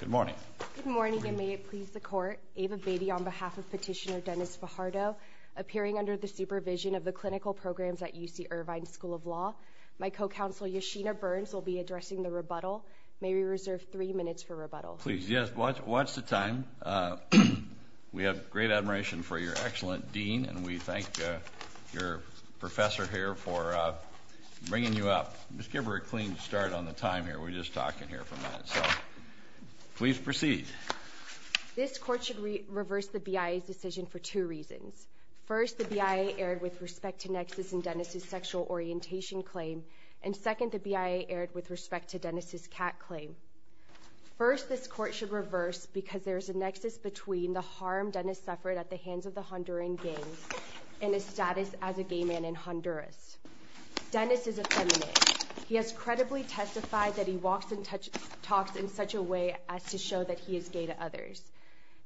Good morning. Good morning, and may it please the Court, Ava Beatty on behalf of Petitioner Dennis Fajardo, appearing under the supervision of the clinical programs at UC Irvine School of Law. My co-counsel Yeshina Burns will be addressing the rebuttal. May we reserve three minutes for rebuttal? Please, yes, watch the time. We have great admiration for your excellent dean, and we thank your professor here for bringing you up. Just give her a clean start on the time here. We're just talking here for a minute, so please proceed. This Court should reverse the BIA's decision for two reasons. First, the BIA erred with respect to Nexus and Dennis' sexual orientation claim, and second, the BIA erred with respect to Dennis' cat claim. First, this Court should reverse because there is a nexus between the and his status as a gay man in Honduras. Dennis is a feminist. He has credibly testified that he walks and talks in such a way as to show that he is gay to others.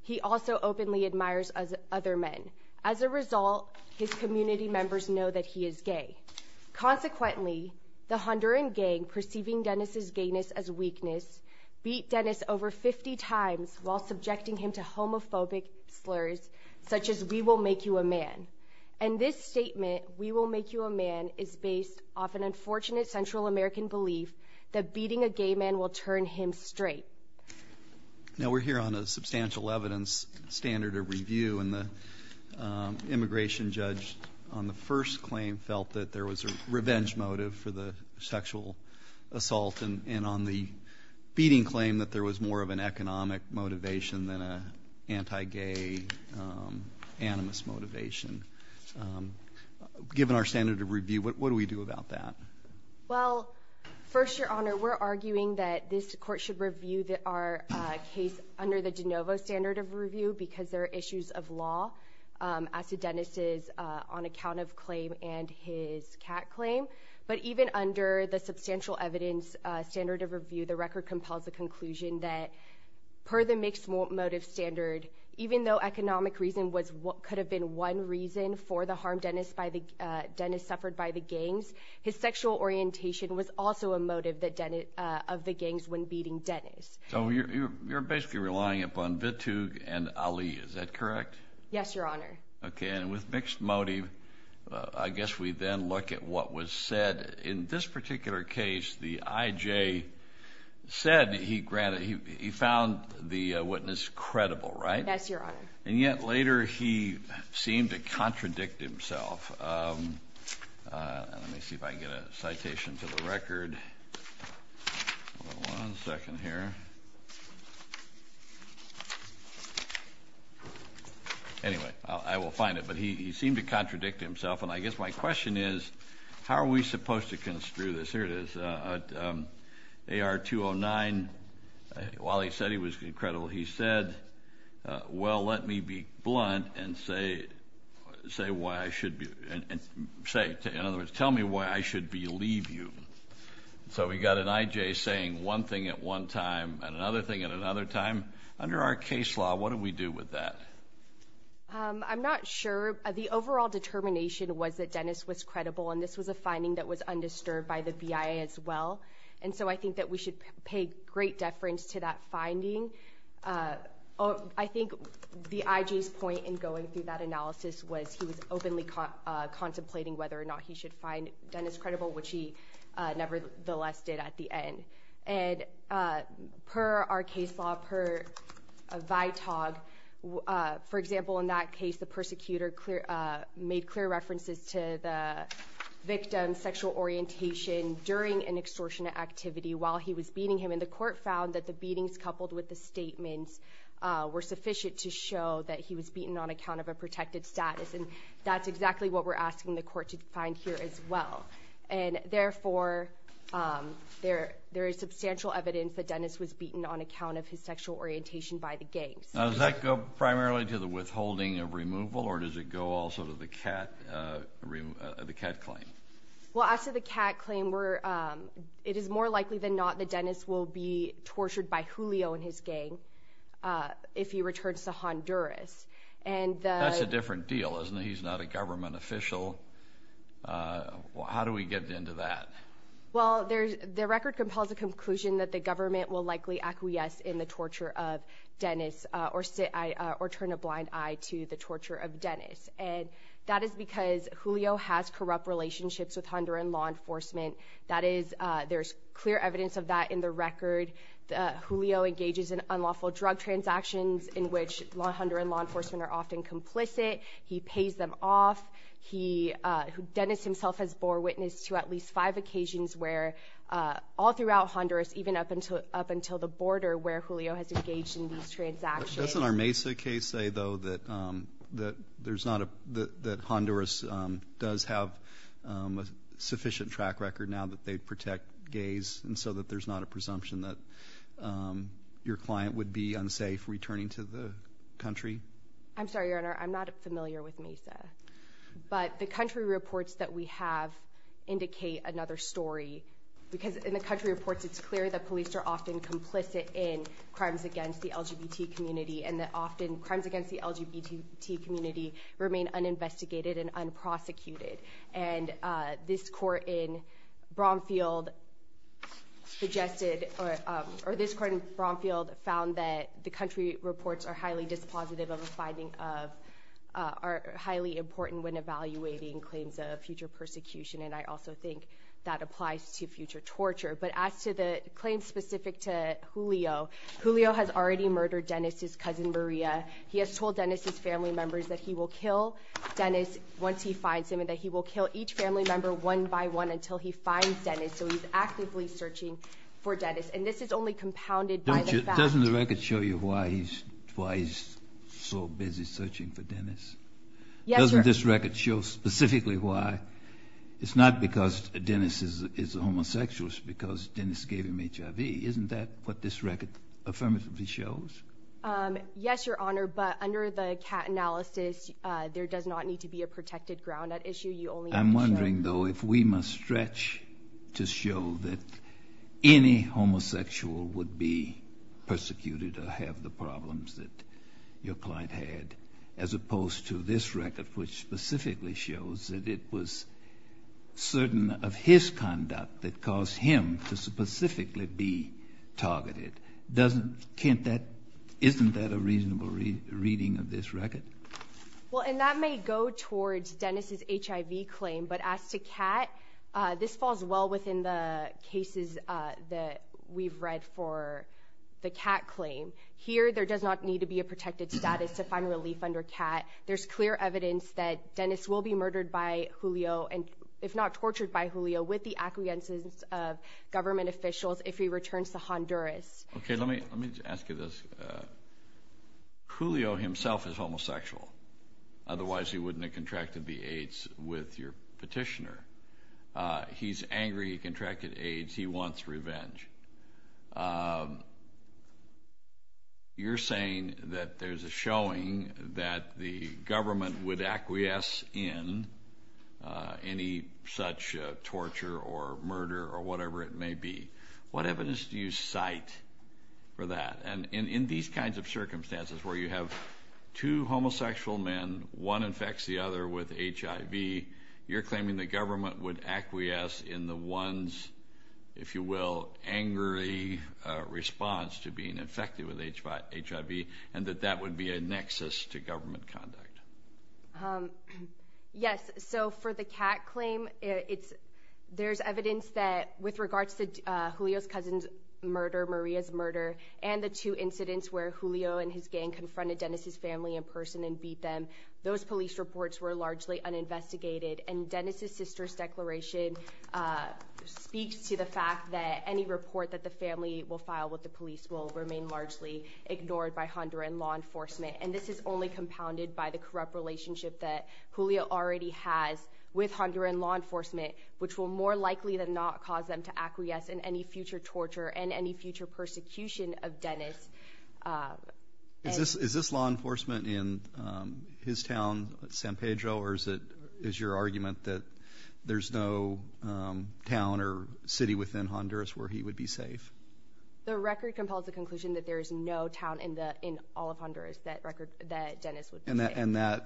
He also openly admires other men. As a result, his community members know that he is gay. Consequently, the Honduran gang, perceiving Dennis' gayness as weakness, beat Dennis over 50 times while subjecting him to homophobic slurs, such as, we will make you a man. And this statement, we will make you a man, is based off an unfortunate Central American belief that beating a gay man will turn him straight. Now we're here on a substantial evidence standard of review, and the immigration judge on the first claim felt that there was a revenge motive for the sexual assault, and on the motivation than an anti-gay, animus motivation. Given our standard of review, what do we do about that? Well, first, Your Honor, we're arguing that this Court should review our case under the de novo standard of review, because there are issues of law as to Dennis' on account of claim and his cat claim. But even under the substantial evidence standard of review, the record compels the conclusion that, per the mixed motive standard, even though economic reason could have been one reason for the harm Dennis suffered by the gangs, his sexual orientation was also a motive of the gangs when beating Dennis. So you're basically relying upon Vitug and Ali, is that correct? Yes, Your Honor. Okay, and with mixed motive, I guess we then look at what was said. In this particular case, the I.J. said he found the witness credible, right? Yes, Your Honor. And yet later he seemed to contradict himself. Let me see if I can get a citation to the record. One second here. Anyway, I will find it. But he seemed to contradict himself, and I guess my question is, how are we supposed to construe this? Here it is. AR-209, while he said he was credible, he said, well, let me be blunt and say why I should be – in other words, tell me why I should believe you. So we've got an I.J. saying one thing at one time and another thing at another time. Under our case law, what do we do with that? I'm not sure. The overall determination was that Dennis was credible, and this was a finding that was undisturbed by the BIA as well. And so I think that we should pay great deference to that finding. I think the I.J.'s point in going through that analysis was he was openly contemplating whether or not he should find Dennis credible, which nevertheless did at the end. And per our case law, per VITOG, for example, in that case, the persecutor made clear references to the victim's sexual orientation during an extortion activity while he was beating him. And the court found that the beatings coupled with the statements were sufficient to show that he was beaten on account of a protected status. And that's exactly what we're asking the court to find here as well. And therefore, there is substantial evidence that Dennis was beaten on account of his sexual orientation by the gangs. Now, does that go primarily to the withholding of removal, or does it go also to the cat – the cat claim? Well, as to the cat claim, we're – it is more likely than not that Dennis will be tortured by Julio and his gang if he returns to Honduras. And the – That's a different deal, isn't it? He's not a government official. How do we get into that? Well, there's – the record compels a conclusion that the government will likely acquiesce in the torture of Dennis or – or turn a blind eye to the torture of Dennis. And that is because Julio has corrupt relationships with Honduran law enforcement. That is – there's clear evidence of that in the record. Julio engages in unlawful drug transactions in which Honduran law enforcement are often complicit. He pays them off. He – Dennis himself has bore witness to at least five occasions where all throughout Honduras, even up until – up until the border, where Julio has engaged in these transactions. Doesn't our Mesa case say, though, that – that there's not a – that Honduras does have a sufficient track record now that they protect gays and so that there's not a presumption that your client would be unsafe returning to the country? I'm sorry, Your Honor. I'm not familiar with Mesa. But the country reports that we have indicate another story. Because in the country reports, it's clear that police are often complicit in crimes against the LGBT community and that often crimes against the LGBT community remain uninvestigated and unprosecuted. And this court in Bromfield suggested – or this court in Bromfield found that the country reports are highly dispositive of a finding of – are highly important when evaluating claims of future persecution, and I also think that applies to future torture. But as to the claims specific to Julio, Julio has already murdered Dennis's cousin Maria. He has told Dennis's family members that he will kill Dennis once he finds him and that he will kill each family member one by one until he finds Dennis. So he's actively searching for Dennis. And this is only compounded by the fact – Doesn't the record show you why he's – why he's so busy searching for Dennis? Yes, Your – Doesn't this record show specifically why? It's not because Dennis is a homosexual. It's because Dennis gave him HIV. Isn't that what this record affirmatively shows? Yes, Your Honor, but under the CAT analysis, there does not need to be a protected ground at issue. You only have to show – I'm wondering, though, if we must stretch to show that any homosexual would be persecuted or have the problems that your client had, as opposed to this record, which specifically shows that it was certain of his conduct that caused him to specifically be targeted. Doesn't – Can't that – Isn't that a reasonable reading of this record? Well, and that may go towards Dennis's HIV claim, but as to CAT, this falls well within the cases that we've read for the CAT claim. Here, there does not need to be a protected status to find relief under CAT. There's clear evidence that Dennis will be murdered by Julio and, if not tortured by Julio, with the acquiescence of government officials if he returns to Honduras. Okay, let me – let me ask you this. Julio himself is homosexual. Otherwise, he wouldn't have contracted the AIDS with your petitioner. He's angry he contracted AIDS. He wants revenge. You're saying that there's a showing that the government would acquiesce in any such torture or murder or whatever it may be. What evidence do you cite for that? And in these kinds of circumstances where you have two homosexual men, one infects the other with HIV, you're claiming the government would acquiesce in the one's, if you will, angry response to being infected with HIV and that that would be a nexus to government conduct? Yes. So for the CAT claim, it's – there's evidence that with regards to Julio's cousin's murder, Maria's murder, and the two incidents where Julio and his gang confronted Dennis's and Dennis's sister's declaration speaks to the fact that any report that the family will file with the police will remain largely ignored by Honduran law enforcement. And this is only compounded by the corrupt relationship that Julio already has with Honduran law enforcement, which will more likely than not cause them to acquiesce in any future torture and any future persecution of Dennis. Is this – is this law enforcement in his town, San Pedro, or is it – is your argument that there's no town or city within Honduras where he would be safe? The record compels the conclusion that there is no town in the – in all of Honduras that record – that Dennis would be safe. And that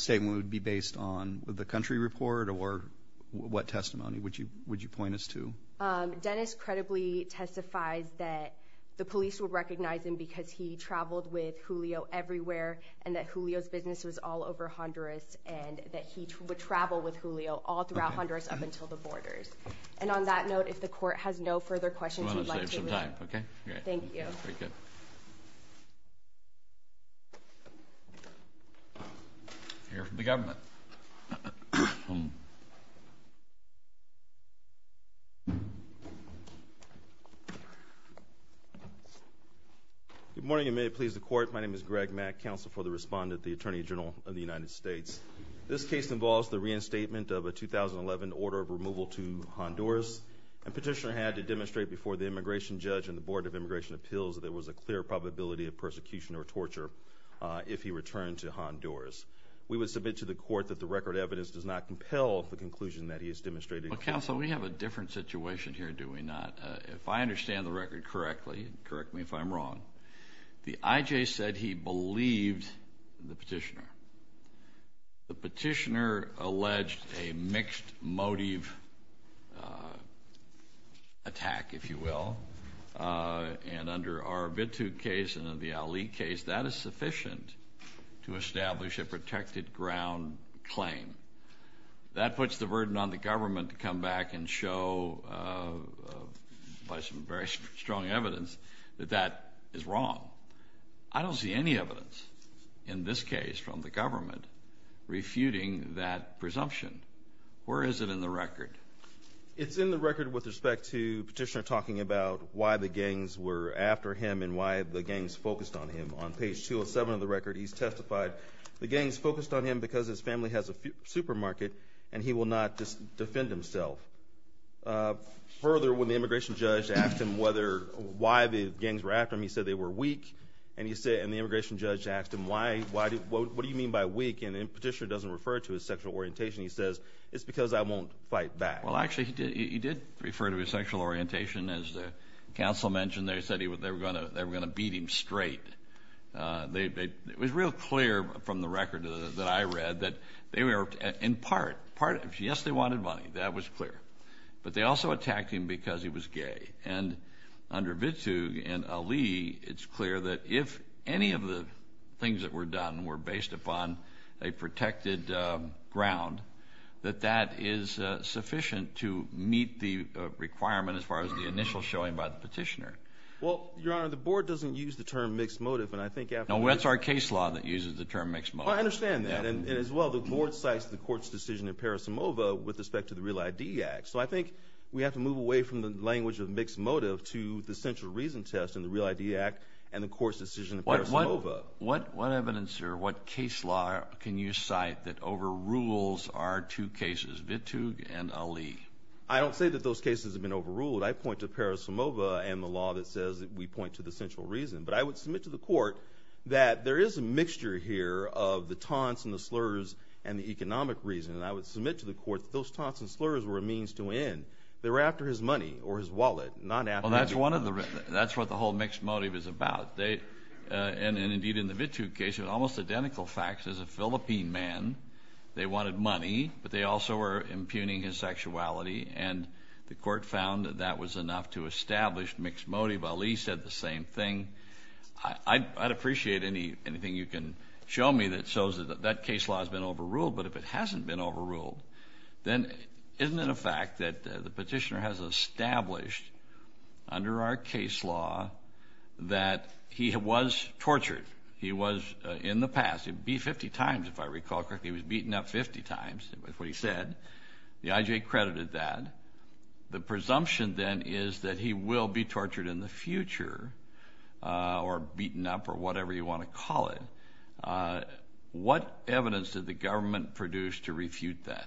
statement would be based on the country report or what testimony would you point us to? Dennis credibly testifies that the police will recognize him because he traveled with Julio everywhere and that Julio's business was all over Honduras and that he would travel with Julio all throughout Honduras up until the borders. And on that note, if the court has no further questions, we'd like to let him go. Thank you. Here from the government. Good morning and may it please the court. My name is Greg Mack, counsel for the respondent, the Attorney General of the United States. This case involves the reinstatement of a 2011 order of removal to Honduras and petitioner had to demonstrate before the immigration judge and the Board of Immigration Appeals that there was a clear probability of persecution or torture if he returned to Honduras. We would submit to the court that the record evidence does not compel the conclusion that he has demonstrated. Well, counsel, we have a different situation here, do we not? If I understand the record correctly – correct me if I'm wrong – the I.J. said he believed the petitioner. The petitioner alleged a mixed motive attack, if you will, and under our Bitu case and the Ali case, that is sufficient to establish a protected ground claim. That puts the burden on the government to come back and show – by some very strong evidence – that that is wrong. I don't see any evidence in this case from the government refuting that presumption. Where is it in the record? It's in the record with respect to petitioner talking about why the gangs were after him and why the gangs focused on him. On page 207 of the record, he's testified the gangs focused on him because his family has a supermarket and he will not defend himself. Further, when the immigration judge asked him why the gangs were after him, he said they were weak. And the immigration judge asked him, what do you mean by weak? And the petitioner doesn't refer to his sexual orientation. He says, it's because I won't fight back. Well, actually, he did refer to his sexual orientation. As the counsel mentioned, they said they were going to beat him straight. It was real clear from the record that I read that in part, yes, they wanted money. That was clear. But they also attacked him because he was gay. And under Vitug and Ali, it's clear that if any of the things that were done were based upon a protected ground, that that is sufficient to meet the requirement as far as the initial showing by the petitioner. Well, Your Honor, the board doesn't use the term mixed motive, and I think – No, it's our case law that uses the term mixed motive. I understand that. And as well, the board cites the court's decision in Parisimova with respect to the Real ID Act. So I think we have to move away from the language of mixed motive to the central reason test in the Real ID Act and the court's decision in Parisimova. What evidence or what case law can you cite that overrules our two cases, Vitug and Ali? I don't say that those cases have been overruled. I point to Parisimova and the law that says that we point to the central reason. But I would submit to the court that there is a mixture here of the taunts and the slurs and the economic reason. And I would submit to the court that those taunts and slurs were a means to win. They were after his money or his wallet, not after – Well, that's one of the – that's what the whole mixed motive is about. And indeed, in the Vitug case, it was almost identical facts as a Philippine man. They wanted money, but they also were impugning his sexuality. And the court found that that was enough to establish mixed motive. Ali said the same thing. I'd appreciate anything you can show me that shows that that case law has been overruled. But if it hasn't been overruled, then isn't it a fact that the petitioner has established under our case law that he was tortured, he was – in the past. He was beat 50 times, if I recall correctly. He was beaten up 50 times is what he said. The IJ credited that. The presumption then is that he will be tortured in the future or beaten up or whatever you want to call it. What evidence did the government produce to refute that?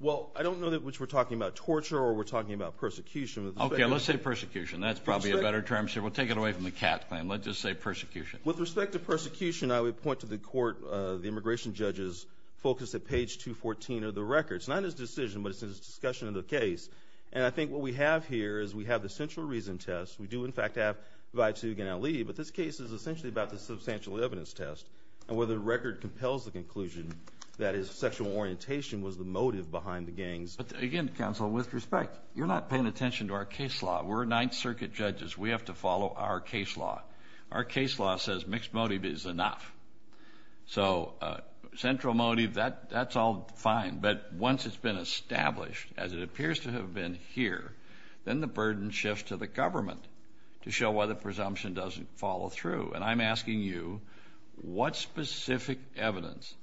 Well, I don't know which we're talking about, torture or we're talking about persecution. Okay, let's say persecution. That's probably a better term, sir. We'll take it away from the cat claim. Let's just say persecution. With respect to persecution, I would point to the court, the immigration judges, focus at page 214 of the record. It's not his decision, but it's his discussion of the case. And I think what we have here is we have the central reason test. We do, in fact, have Baitug and Ali, but this case is essentially about the substantial evidence test and where the record compels the conclusion that his sexual orientation was the motive behind the gangs. Again, counsel, with respect, you're not paying attention to our case law. We're Ninth Circuit judges. We have to follow our case law. Our case law says mixed motive is enough. So central motive, that's all fine. But once it's been established, as it appears to have been here, then the burden shifts to the government to show why the presumption doesn't follow through. And I'm asking you, what specific evidence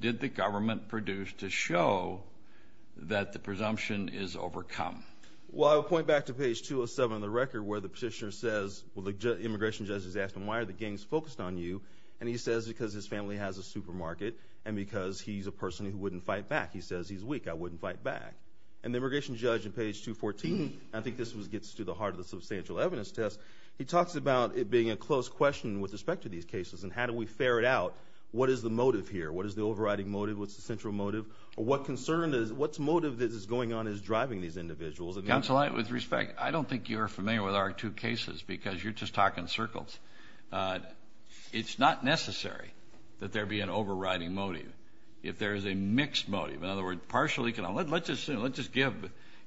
did the government produce to show that the presumption is overcome? Well, I would point back to page 207 of the record where the petitioner says, well, the immigration judges asked him, why are the gangs focused on you? And he says, because his family has a supermarket and because he's a person who wouldn't fight back. He says, he's weak. I wouldn't fight back. And the immigration judge in page 214, I think this gets to the heart of the substantial evidence test, he talks about it being a close question with respect to these cases and how do we ferret out what is the motive here? What is the overriding motive? What's the central motive? What concern is, what's motive that is going on is driving these individuals? Counsel, with respect, I don't think you're familiar with our two cases because you're just talking circles. It's not necessary that there be an overriding motive if there is a mixed motive. In other words, partially, let's just give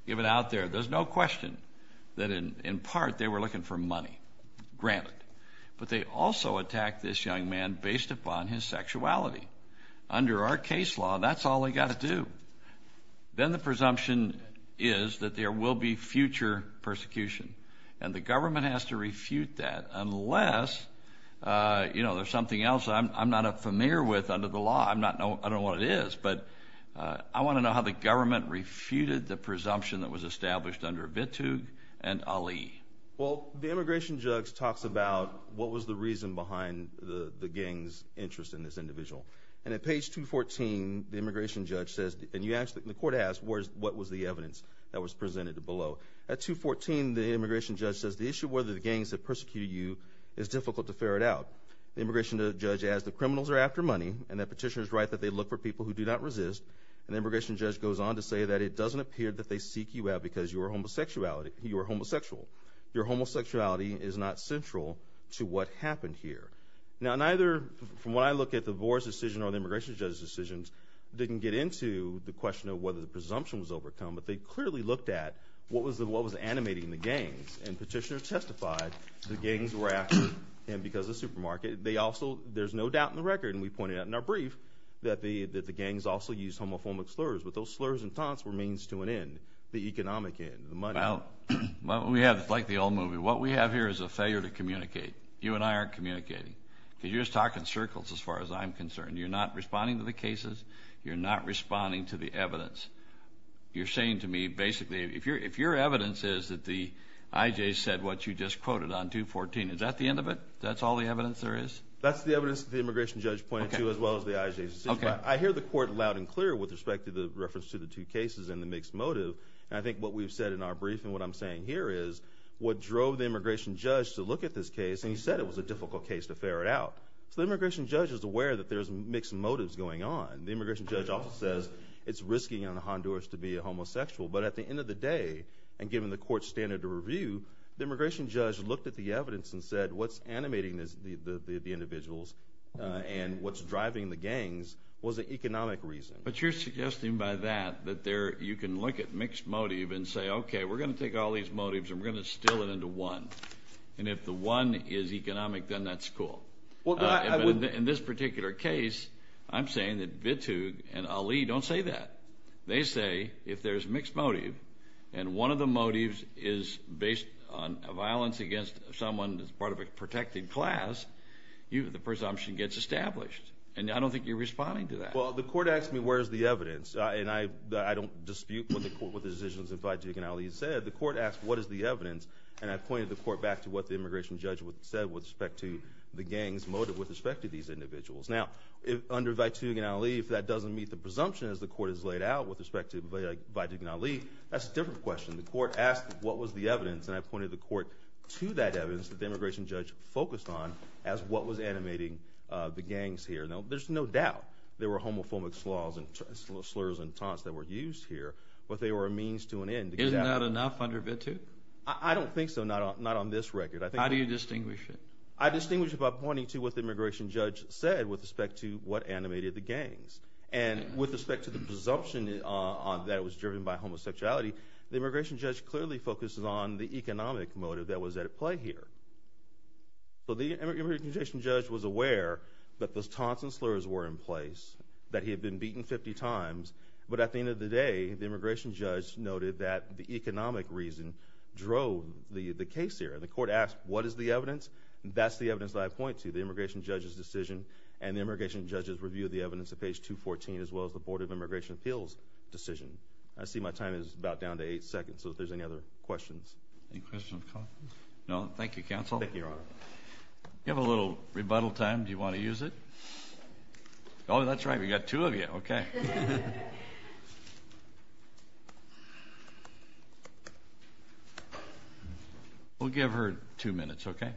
it out there. There's no question that in part they were looking for money, granted. But they also attacked this young man based upon his sexuality. Under our case law, that's all they got to do. Then the presumption is that there will be future persecution and the government has to refute that unless there's something else I'm not familiar with under the law. I don't know what it is, but I want to know how the government refuted the presumption that was established under Vitug and Ali. Well, the immigration judge talks about what was the reason behind the gang's interest in this individual. At page 214, the immigration judge says, and the court asks, what was the evidence that was presented below? At 214, the immigration judge says, the issue whether the gangs have persecuted you is difficult to ferret out. The immigration judge adds, the criminals are after money, and that petitioner's right that they look for people who do not resist. And the immigration judge goes on to say that it doesn't appear that they seek you out because you are homosexual. Your homosexuality is not central to what happened here. Now, neither, from what I look at, the board's decision or the immigration judge's decisions didn't get into the question of whether the presumption was overcome, but they clearly looked at what was animating the gangs. And petitioner testified the gangs were after him because of the supermarket. They also, there's no doubt in the record, and we pointed out in our brief, that the gangs also used homophobic slurs, but those slurs and taunts were means to an end, the economic end, the money. Well, we have, like the old movie, what we have here is a failure to communicate. You and I aren't communicating because you're just talking circles as far as I'm concerned. You're not responding to the cases. You're not responding to the evidence. You're saying to me, basically, if your evidence is that the IJs said what you just quoted on 214, is that the end of it? That's all the evidence there is? That's the evidence that the immigration judge pointed to, as well as the IJs. I hear the court loud and clear with respect to the reference to the two cases and the mixed motive, and I think what we've said in our brief and what I'm saying here is what drove the immigration judge to look at this case, and he said it was a difficult case to fair it out. So the immigration judge is aware that there's mixed motives going on. The immigration judge also says it's risking on the Honduras to be a homosexual, but at the end of the day, and given the court's standard of review, the immigration judge looked at the evidence and what's animating the individuals and what's driving the gangs was an economic reason. But you're suggesting by that that you can look at mixed motive and say, okay, we're going to take all these motives and we're going to distill it into one, and if the one is economic, then that's cool. In this particular case, I'm saying that Bitug and Ali don't say that. They say if there's mixed motive and one of the motives is based on violence against someone that's part of a protected class, the presumption gets established, and I don't think you're responding to that. Well, the court asked me where's the evidence, and I don't dispute what the court with the decisions of Bitug and Ali said. The court asked what is the evidence, and I pointed the court back to what the immigration judge said with respect to the gangs motive with respect to these individuals. Now, under Bitug and Ali, if that doesn't meet the presumption as the court has laid out with respect to Bitug and Ali, that's a different question. The court asked what was the evidence, and I pointed the court to that evidence that the immigration judge focused on as what was animating the gangs here. Now, there's no doubt there were homophobic slurs and taunts that were used here, but they were a means to an end. Isn't that enough under Bitug? I don't think so, not on this record. How do you distinguish it? I distinguish it by pointing to what the immigration judge said with respect to what animated the gangs, and with respect to the presumption that it was driven by homosexuality, the immigration judge clearly focuses on the economic motive that was at play here. So, the immigration judge was aware that those taunts and slurs were in place, that he had been beaten 50 times, but at the end of the day, the immigration judge noted that the economic reason drove the case here. The court asked what is the evidence, and that's the evidence that I point to, the immigration judge's decision, and the immigration judge's review of the evidence at page 214 as well as the Board of Immigration Appeals decision. I see my time is about down to eight seconds, so if there's any other questions. Any questions? No? Thank you, counsel. You have a little rebuttal time, do you want to use it? Oh, that's right, we've got two of you. We'll give her two minutes, okay?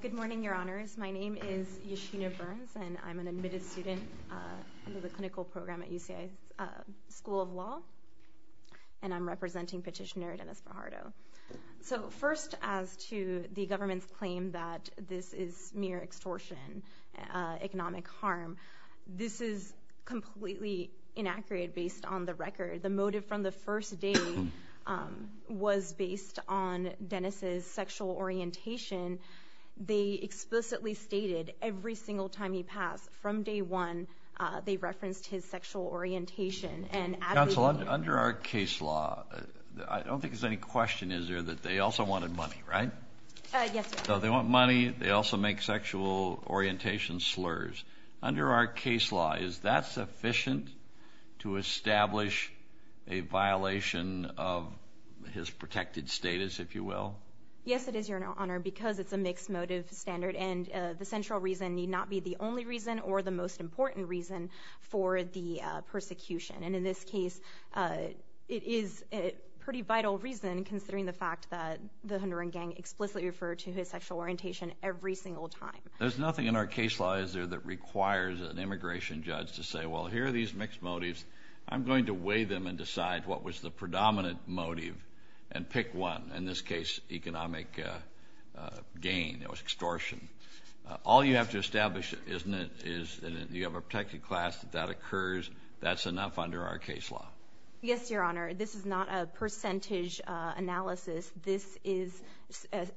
Good morning, your honors. My name is Yeshina Burns, and I'm an admitted student under the clinical program at UCI School of Law, and I'm representing petitioner Dennis Fajardo. So, first, as to the government's claim that this is mere extortion, economic harm, this is completely inaccurate based on the record. The motive from the first day was based on Dennis's sexual orientation. They explicitly stated every single time he passed, from day one, they referenced his sexual orientation. Counsel, under our case law, I don't think there's any question, is there, that they also wanted money, right? Yes, yes. So they want money, they also make sexual orientation slurs. Under our case law, is that sufficient to establish a violation of his protected status, if you will? Yes, it is, your honor, because it's a mixed motive standard, and the central reason need not be the only reason or the most important reason for the persecution. And in this case, it is a pretty vital reason, considering the fact that the Honduran gang explicitly referred to his sexual orientation every single time. There's nothing in our case law, is there, that requires an immigration judge to say, well, here are these mixed motives, I'm going to weigh them and decide what was the predominant motive and pick one. In this case, economic gain, it was extortion. All you have to establish, isn't it, is you have a protected class, if that occurs, that's enough under our case law. Yes, your honor, this is not a percentage analysis. This is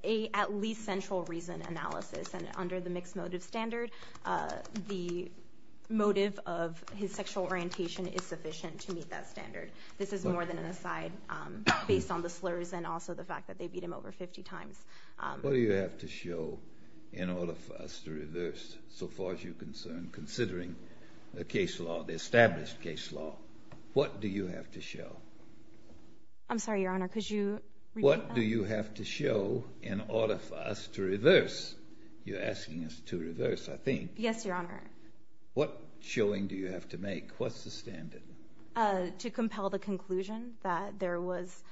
a at least central reason analysis, and under the mixed motive standard, the motive of his sexual orientation is sufficient to meet that standard. This is more than an aside, based on the slurs and also the fact that they over 50 times. What do you have to show in order for us to reverse, so far as you're concerned, considering the case law, the established case law? What do you have to show? I'm sorry, your honor, could you repeat that? What do you have to show in order for us to reverse? You're asking us to reverse, I think. Yes, your honor. What showing do you have to make? What's the standard? To compel the conclusion that there was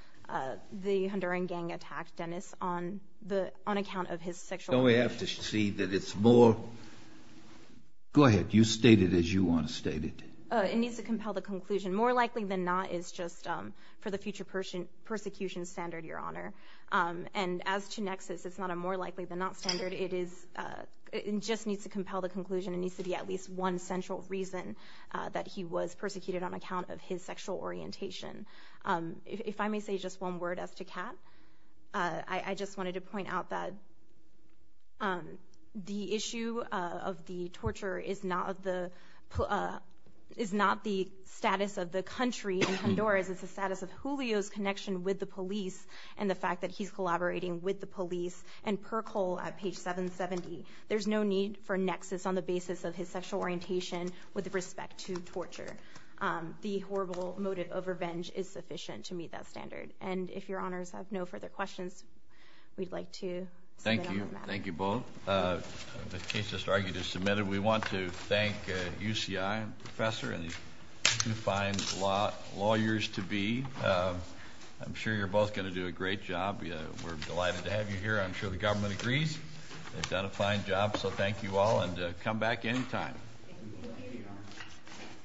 the Honduran gang attack, Dennis, on the, on account of his sexual orientation. Don't we have to see that it's more, go ahead, you state it as you want to state it. It needs to compel the conclusion. More likely than not is just for the future persecution standard, your honor, and as to nexus, it's not a more likely than not standard. It is, it just needs to compel the conclusion. It needs to be at least one central reason that he was persecuted on account of his sexual orientation. If I may say just one word as to Kat, I just wanted to point out that the issue of the torture is not the, is not the status of the country in Honduras. It's the status of Julio's connection with the police and the fact that he's collaborating with the police and percol at page 770. There's no need for nexus on the basis of his sexual orientation with respect to torture. The horrible motive of revenge is sufficient to meet that standard. And if your honors have no further questions, we'd like to thank you. Thank you both. The case just argued is submitted. We want to thank UCI and professor and who finds law lawyers to be. I'm sure you're both going to do a great job. We're delighted to have you here. I'm sure the government agrees. They've done a fine job. So thank you all and come back anytime.